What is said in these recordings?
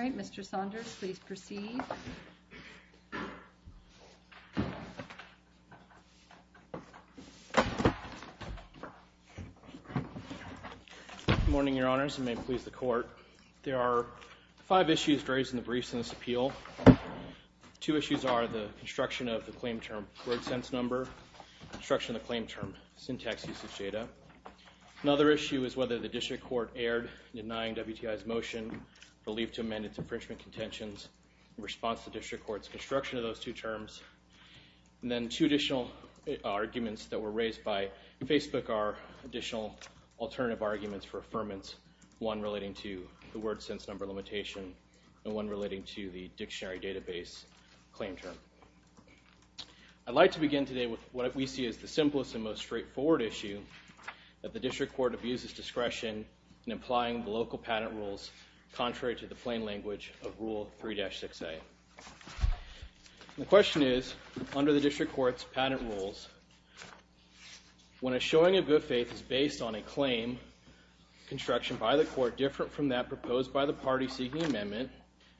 All right, Mr. Saunders, please proceed. Good morning, Your Honors, and may it please the Court. There are five issues raised in the briefs in this appeal. Two issues are the construction of the claim term word sense number, construction of the claim term syntax usage data. Another issue is whether the district court erred in denying WTI's motion, relief to amend its infringement contentions in response to district court's construction of those two terms. And then two additional arguments that were raised by Facebook are additional alternative arguments for affirmance, one relating to the word sense number limitation, and one relating to the dictionary database claim term. I'd like to begin today with what we see as the simplest and most straightforward issue that the district court abuses discretion in applying the local patent rules contrary to the plain language of Rule 3-6A. The question is, under the district court's patent rules, when a showing of good faith is based on a claim construction by the court different from that proposed by the party seeking amendment,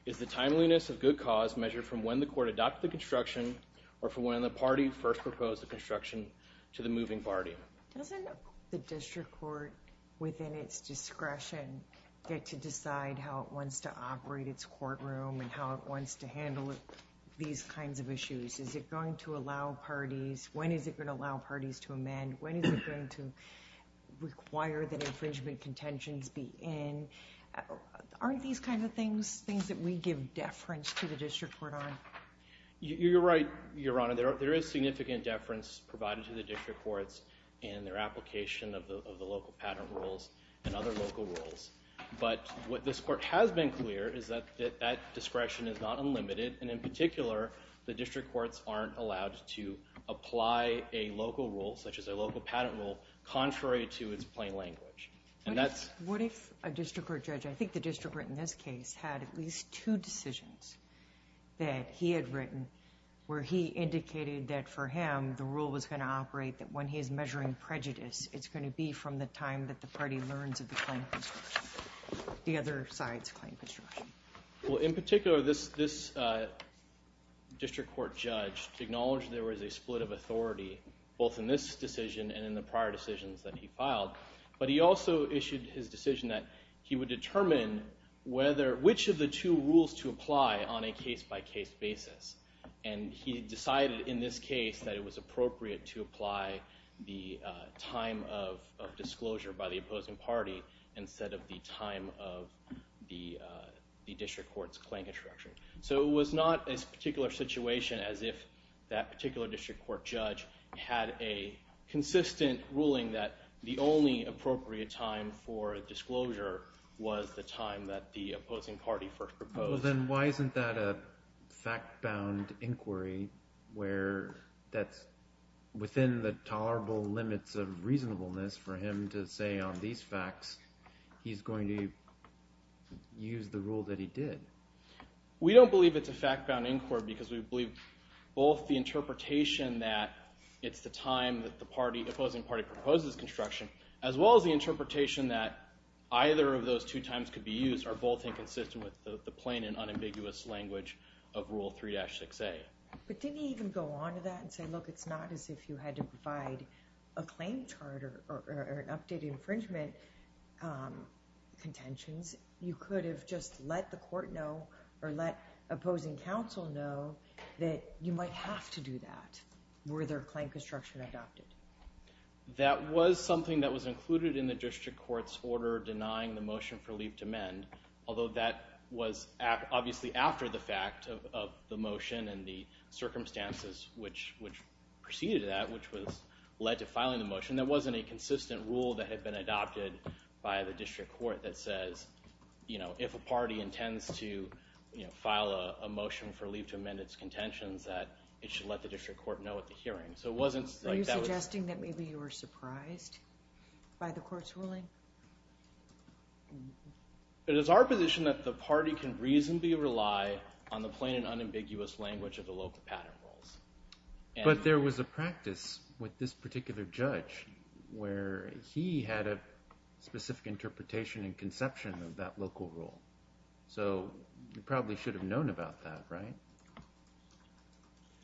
is the timeliness of good cause measured from when the court adopted the construction or from when the party first proposed the construction to the moving party? Doesn't the district court, within its discretion, get to decide how it wants to operate its courtroom and how it wants to handle these kinds of issues? Is it going to allow parties? When is it going to allow parties to amend? When is it going to require that infringement contentions be in? Aren't these kind of things things that we give deference to the district court on? You're right, Your Honor. There is significant deference provided to the district courts in their application of the local patent rules and other local rules. But what this court has been clear is that that discretion is not unlimited, and in particular, the district courts aren't allowed to apply a local rule, such as a local patent rule, contrary to its plain language. What if a district court judge, I think the district court in this case, had at least two decisions that he had written where he indicated that, for him, the rule was going to operate that when he is measuring prejudice, it's going to be from the time that the party learns of the claim construction, the other side's claim construction? In particular, this district court judge acknowledged there was a split of authority, both in this decision and in the prior decisions that he filed, but he also issued his decision that he would determine which of the two rules to apply on a case-by-case basis. And he decided, in this case, that it was appropriate to apply the time of disclosure by the opposing party instead of the time of the district court's claim construction. So it was not a particular situation as if that particular district court judge had a time that the opposing party first proposed. Well, then why isn't that a fact-bound inquiry where that's within the tolerable limits of reasonableness for him to say on these facts he's going to use the rule that he did? We don't believe it's a fact-bound inquiry because we believe both the interpretation that it's the time that the opposing party proposes construction, as well as the interpretation that either of those two times could be used, are both inconsistent with the plain and unambiguous language of Rule 3-6A. But didn't he even go on to that and say, look, it's not as if you had to provide a claim charter or an updated infringement contentions? You could have just let the court know or let opposing counsel know that you might have to do that were their claim construction adopted. That was something that was included in the district court's order denying the motion for leave to amend, although that was obviously after the fact of the motion and the circumstances which preceded that, which was led to filing the motion. There wasn't a consistent rule that had been adopted by the district court that says, you know, if a party intends to file a motion for leave to amend its contentions, that it should let the district court know at the hearing. Are you suggesting that maybe you were surprised by the court's ruling? It is our position that the party can reasonably rely on the plain and unambiguous language of the local pattern rules. But there was a practice with this particular judge where he had a specific interpretation and conception of that local rule. So you probably should have known about that, right?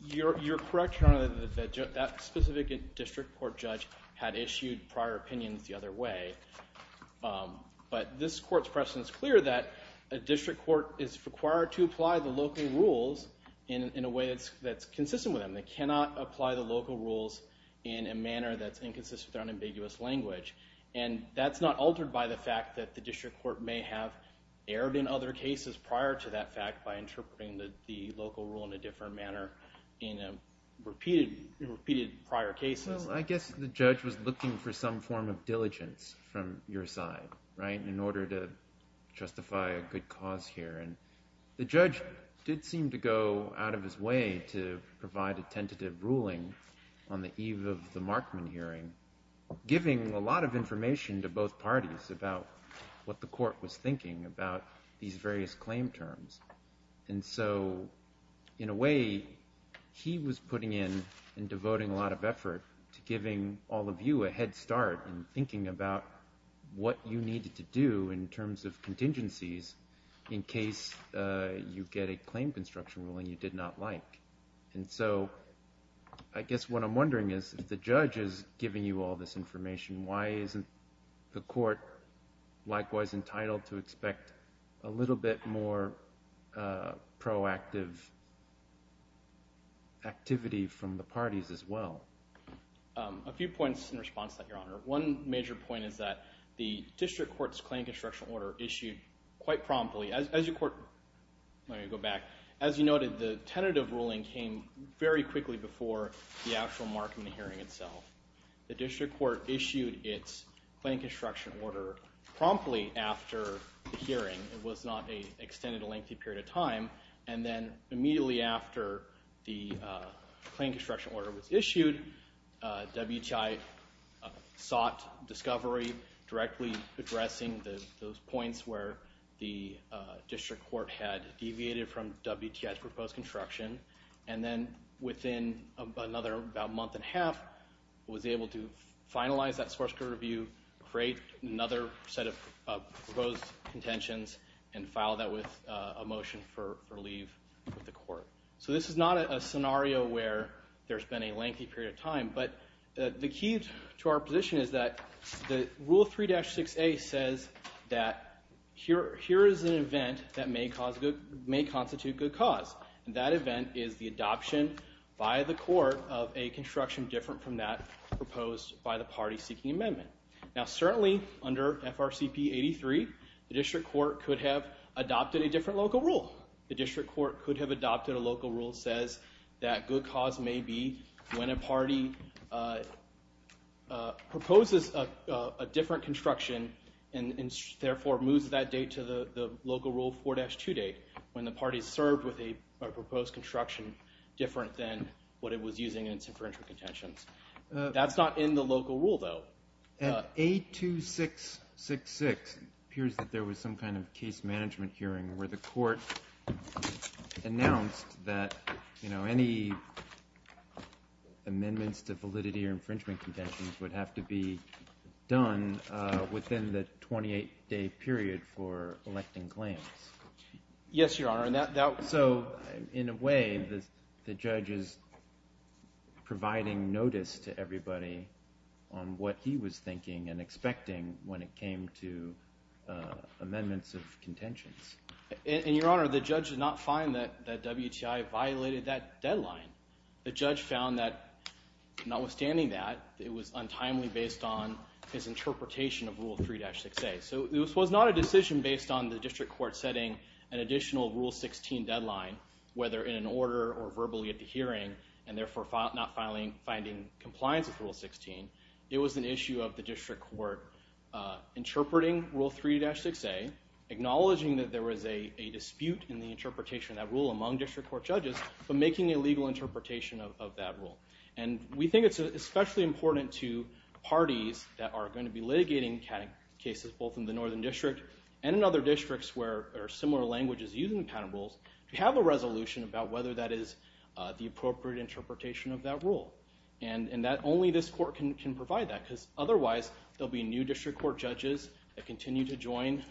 You're correct, Your Honor, that that specific district court judge had issued prior opinions the other way. But this court's precedent is clear that a district court is required to apply the local rules in a way that's consistent with them. They cannot apply the local rules in a manner that's inconsistent with their unambiguous language. And that's not altered by the fact that the district court may have erred in other cases prior to that fact by interpreting the local rule in a different manner in repeated prior cases. Well, I guess the judge was looking for some form of diligence from your side, right, in order to justify a good cause here. And the judge did seem to go out of his way to provide a tentative ruling on the eve of the Markman hearing, giving a lot of information to both parties about what the court was going to do in terms of its claim terms. And so in a way, he was putting in and devoting a lot of effort to giving all of you a head start in thinking about what you needed to do in terms of contingencies in case you get a claim construction ruling you did not like. And so I guess what I'm wondering is, if the judge is giving you all this information, why isn't the court likewise entitled to expect a little bit more proactive activity from the parties as well? A few points in response to that, Your Honor. One major point is that the district court's claim construction order issued quite promptly. As you noted, the tentative ruling came very quickly before the actual Markman hearing itself. The district court issued its claim construction order promptly after the hearing. It was not extended a lengthy period of time. And then immediately after the claim construction order was issued, WTI sought discovery directly addressing those points where the district court had deviated from WTI's proposed construction. And then within about a month and a half, it was able to finalize that source code review, create another set of proposed contentions, and file that with a motion for leave with the court. So this is not a scenario where there's been a lengthy period of time. But the key to our position is that Rule 3-6A says that here is an event that may constitute good cause. And that event is the adoption by the court of a construction different from that proposed by the party seeking amendment. Now certainly under FRCP 83, the district court could have adopted a different local rule. The district court could have adopted a local rule that says that good cause may be when a party proposes a different construction and therefore moves that date to the local rule 4-2 date, when the party served with a proposed construction different than what it was using in its inferential contentions. That's not in the local rule though. At 82666, it appears that there was some kind of case management hearing where the court announced that any amendments to validity or infringement contentions would have to be done within the 28-day period for electing claims. Yes, Your Honor. So in a way, the judge is providing notice to everybody on what he was thinking and expecting when it came to amendments of contentions. And Your Honor, the judge did not find that WTI violated that deadline. The judge found that notwithstanding that, it was untimely based on his interpretation of Rule 3-6A. So this was not a decision based on the district court setting an additional Rule 16 deadline, whether in an order or verbally at the hearing, and therefore not finding compliance with Rule 16. It was an issue of the district court interpreting Rule 3-6A, acknowledging that there was a misinterpretation of that rule. And we think it's especially important to parties that are going to be litigating cases both in the Northern District and in other districts where there are similar languages used in the patent rules to have a resolution about whether that is the appropriate interpretation of that rule. And only this court can provide that, because otherwise, there will be new district court judges that continue to join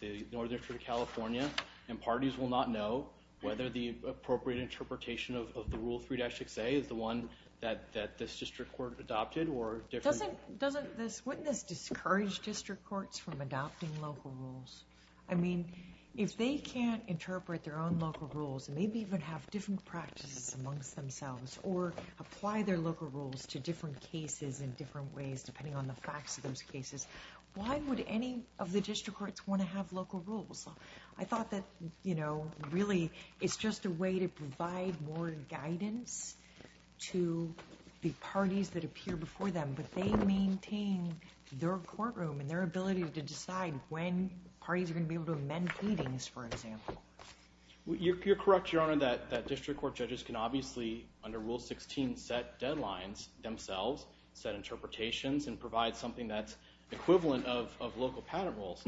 the Northern District of California, and parties will not know whether the appropriate interpretation of the Rule 3-6A is the one that this district court adopted, or different. Doesn't this witness discourage district courts from adopting local rules? I mean, if they can't interpret their own local rules, and maybe even have different practices amongst themselves, or apply their local rules to different cases in different ways, depending on the facts of those cases, why would any of the district courts want to have local rules? I thought that, you know, really, it's just a way to provide more guidance to the parties that appear before them, but they maintain their courtroom and their ability to decide when parties are going to be able to amend headings, for example. You're correct, Your Honor, that district court judges can obviously, under Rule 16, set deadlines themselves, set interpretations, and provide something that's equivalent of local patent rules.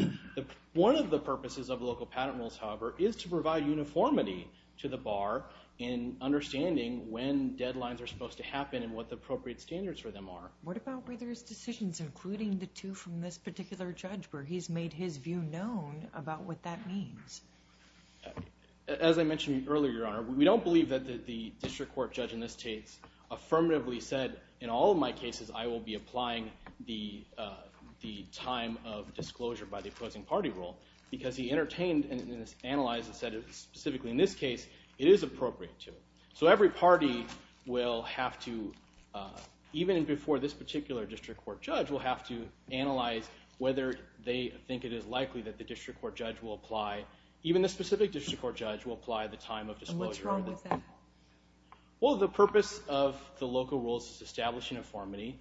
One of the purposes of local patent rules, however, is to provide uniformity to the bar in understanding when deadlines are supposed to happen, and what the appropriate standards for them are. What about whether his decisions, including the two from this particular judge, where he's made his view known about what that means? As I mentioned earlier, Your Honor, we don't believe that the district court judge in this case affirmatively said, in all of my cases, I will be applying the time of disclosure by the opposing party rule, because he entertained and analyzed and said, specifically in this case, it is appropriate to. So every party will have to, even before this particular district court judge, will have to analyze whether they think it is likely that the district court judge will apply, even the specific district court judge will apply the time of disclosure. And what's wrong with that? Well, the purpose of the local rules is to establish uniformity,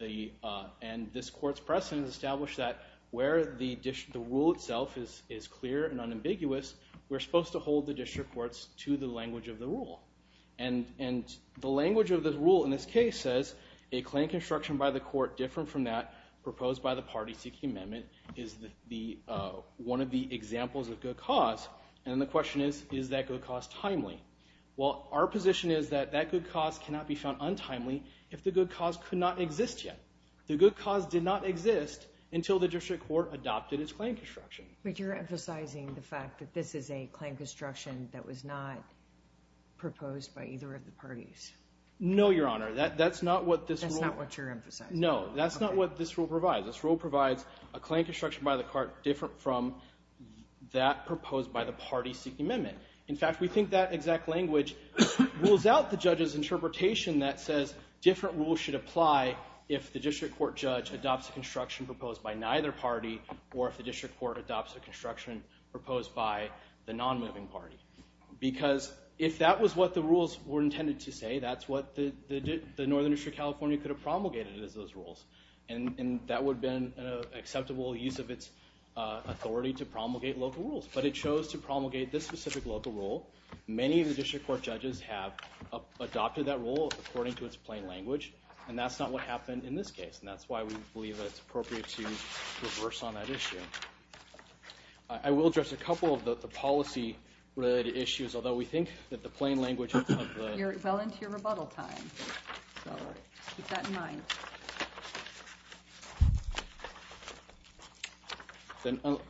and this Court's precedent has established that where the rule itself is clear and unambiguous, we're supposed to hold the district courts to the language of the rule. And the language of the rule in this case says, a claim construction by the court different from that proposed by the party seeking amendment is one of the examples of good cause, and the question is, is that good cause timely? Well, our position is that that good cause cannot be found untimely if the good cause could not exist yet. The good cause did not exist until the district court adopted its claim construction. But you're emphasizing the fact that this is a claim construction that was not proposed by either of the parties. No, Your Honor. That's not what this rule... That's not what you're emphasizing. No, that's not what this rule provides. This rule provides a claim construction by the court different from that proposed by the party seeking amendment. In fact, we think that exact language rules out the judge's interpretation that says different rules should apply if the district court judge adopts a construction proposed by neither party or if the district court adopts a construction proposed by the non-moving party. Because if that was what the rules were intended to say, that's what the Northern District of California could have promulgated as those rules. And that would have been an acceptable use of its authority to promulgate local rules. But it chose to promulgate this specific local rule. Many of the district court judges have adopted that rule according to its plain language. And that's not what happened in this case. And that's why we believe that it's appropriate to reverse on that issue. I will address a couple of the policy related issues, although we think that the plain language of the... You're well into your rebuttal time, so keep that in mind.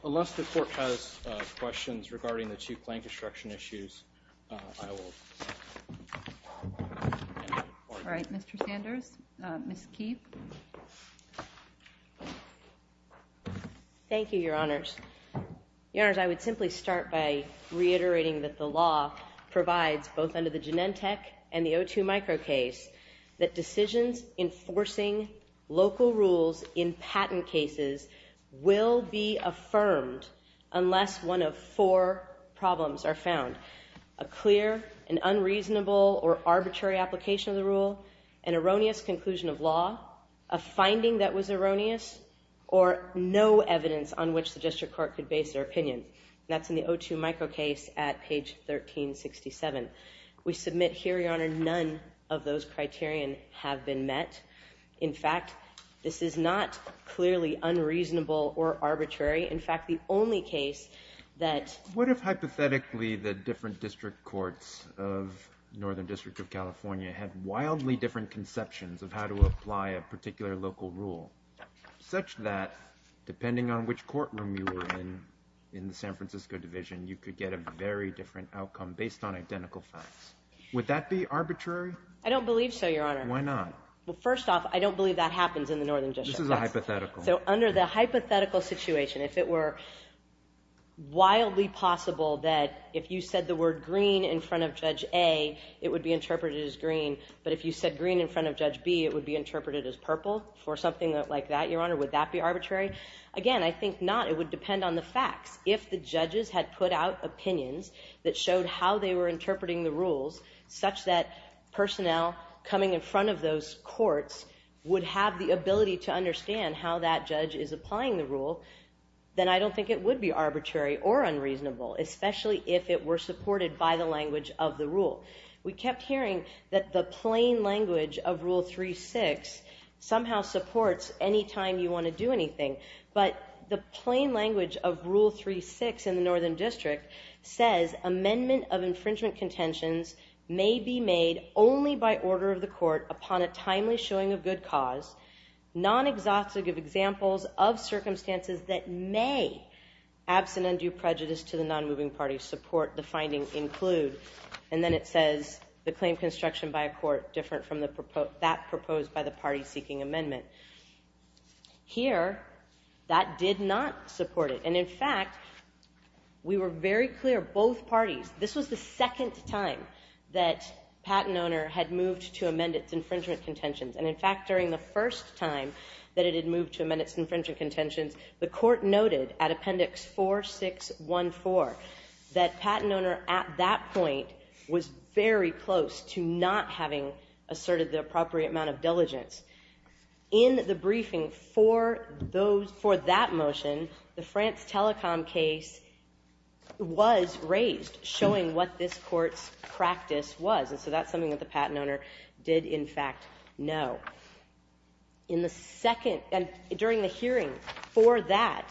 Unless the court has questions regarding the two plain construction issues, I will end the report. All right. Mr. Sanders. Ms. Keefe. Thank you, Your Honors. Your Honors, I would simply start by reiterating that the law provides, both under the Genentech and the O2 micro case, that decisions enforcing local rules in patent cases will be affirmed unless one of four problems are found. A clear and unreasonable or arbitrary application of the rule, an erroneous conclusion of law, a finding that was erroneous, or no evidence on which the district court could base their opinion. That's in the O2 micro case at page 1367. We submit here, Your Honor, none of those criterion have been met. In fact, this is not clearly unreasonable or arbitrary. In fact, the only case that... What if hypothetically the different district courts of Northern District of California had wildly different conceptions of how to apply a particular local rule, such that depending on which courtroom you were in, in the San Francisco division, you could get a very different outcome based on identical facts. Would that be arbitrary? I don't believe so, Your Honor. Why not? Well, first off, I don't believe that happens in the Northern District. This is a hypothetical. So under the hypothetical situation, if it were wildly possible that if you said the word green in front of Judge A, it would be interpreted as green, but if you said green in front of Judge B, it would be interpreted as purple, for something like that, Your Honor, would that be arbitrary? Again, I think not. It would depend on the facts. If the judges had put out opinions that showed how they were interpreting the rules, such that personnel coming in front of those courts would have the ability to understand how that judge is applying the rule, then I don't think it would be arbitrary or unreasonable, especially if it were supported by the language of the rule. We kept hearing that the plain language of Rule 3.6 somehow supports any time you want to do anything, but the plain language of Rule 3.6 in the Northern District says amendment of infringement contentions may be made only by order of the court upon a timely showing of good cause, non-exhaustive examples of circumstances that may, absent undue prejudice to the non-moving party, support the finding include, and then it says the claim construction by a court different from that proposed by the party seeking amendment. Here, that did not support it, and in fact, we were very clear, both parties, this was the second time that patent owner had moved to amend its infringement contentions, and in fact, during the first time that it had moved to amend its infringement contentions, the court noted at Appendix 4614 that patent owner at that point was very close to not having asserted the appropriate amount of diligence. In the briefing for that motion, the France Telecom case was raised, showing what this court's practice was, and so that's something that the patent owner did, in fact, know. In the second, during the hearing for that,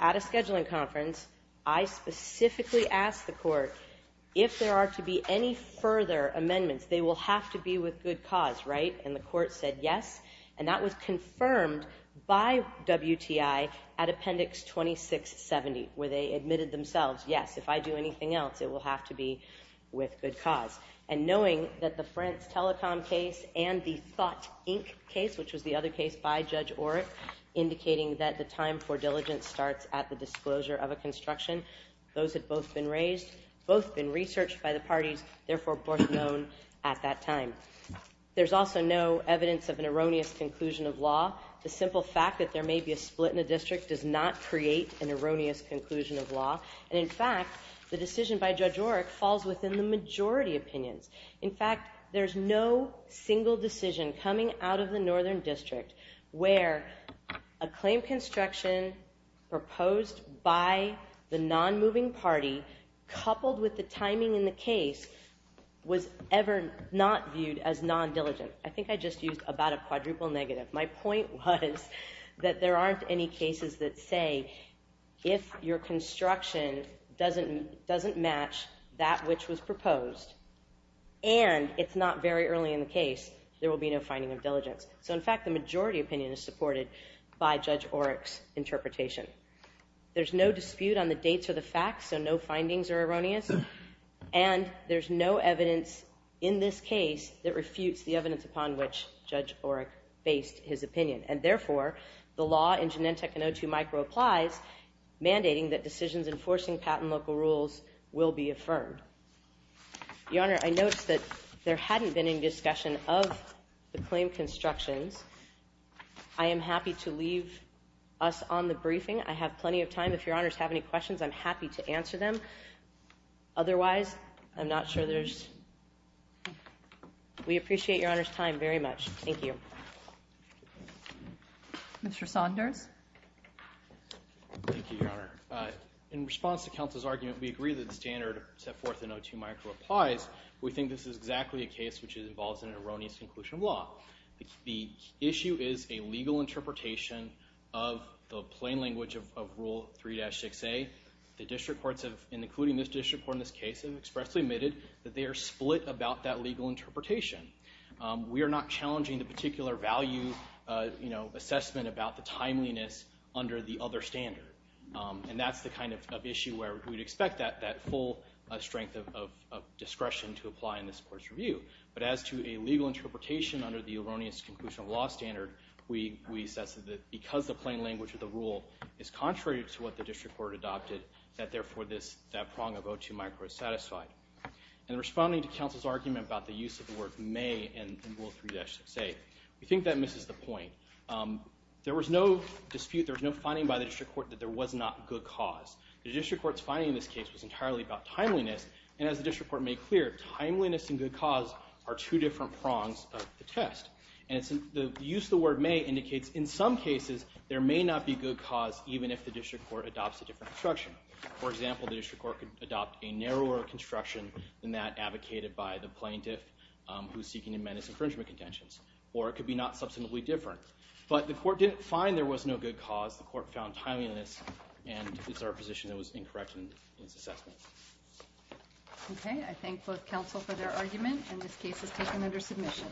at a scheduling conference, I specifically asked the court if there are to be any further amendments, they will have to be with good cause, right? And the court said yes, and that was confirmed by WTI at Appendix 2670, where they admitted themselves, yes, if I do anything else, it will have to be with good cause, and knowing that the France Telecom case and the Thought, Inc. case, which was the other case by Judge Oreck, indicating that the time for diligence starts at the disclosure of a construction, those had both been raised, both been researched by the parties, therefore, both known at that time. There's also no evidence of an erroneous conclusion of law, the simple fact that there may be a split in a district does not create an erroneous conclusion of law, and in fact, the decision by Judge Oreck falls within the majority opinions. In fact, there's no single decision coming out of the Northern District where a claim construction proposed by the non-moving party, coupled with the timing in the case, was ever not viewed as non-diligent. I think I just used about a quadruple negative. My point was that there aren't any cases that say, if your construction doesn't match that which was proposed, and it's not very early in the case, there will be no finding of diligence. So in fact, the majority opinion is supported by Judge Oreck's interpretation. There's no dispute on the dates of the facts, so no findings are erroneous, and there's no evidence in this case that refutes the evidence upon which Judge Oreck based his opinion, and therefore, the law in Genentech and O2 Micro applies, mandating that decisions enforcing patent local rules will be affirmed. Your Honor, I noticed that there hadn't been any discussion of the claim constructions. I am happy to leave us on the briefing. I have plenty of time. If Your Honors have any questions, I'm happy to answer them. Otherwise, I'm not sure there's... We appreciate Your Honor's time very much. Thank you. Mr. Saunders? Thank you, Your Honor. In response to counsel's argument, we agree that the standard set forth in O2 Micro applies. We think this is exactly a case which involves an erroneous conclusion of law. The issue is a legal interpretation of the plain language of Rule 3-6A. The district courts have, including this district court in this case, have expressly admitted that they are split about that legal interpretation. We are not challenging the particular value, you know, assessment about the timeliness under the other standard. And that's the kind of issue where we'd expect that full strength of discretion to apply in this court's review. But as to a legal interpretation under the erroneous conclusion of law standard, we assess that because the plain language of the rule is contrary to what the district court adopted, that therefore that prong of O2 Micro is satisfied. In responding to counsel's argument about the use of the word may in Rule 3-6A, we think that misses the point. There was no dispute, there was no finding by the district court that there was not good cause. The district court's finding in this case was entirely about timeliness, and as the district court made clear, timeliness and good cause are two different prongs of the test. And the use of the word may indicates, in some cases, there may not be good cause even if the district court adopts a different construction. For example, the district court could adopt a narrower construction than that advocated by the plaintiff who's seeking to amend his infringement contentions. Or it could be not substantively different. But the court didn't find there was no good cause. The court found timeliness, and it's our position that it was incorrect in its assessment. Okay. I thank both counsel for their argument, and this case is taken under submission.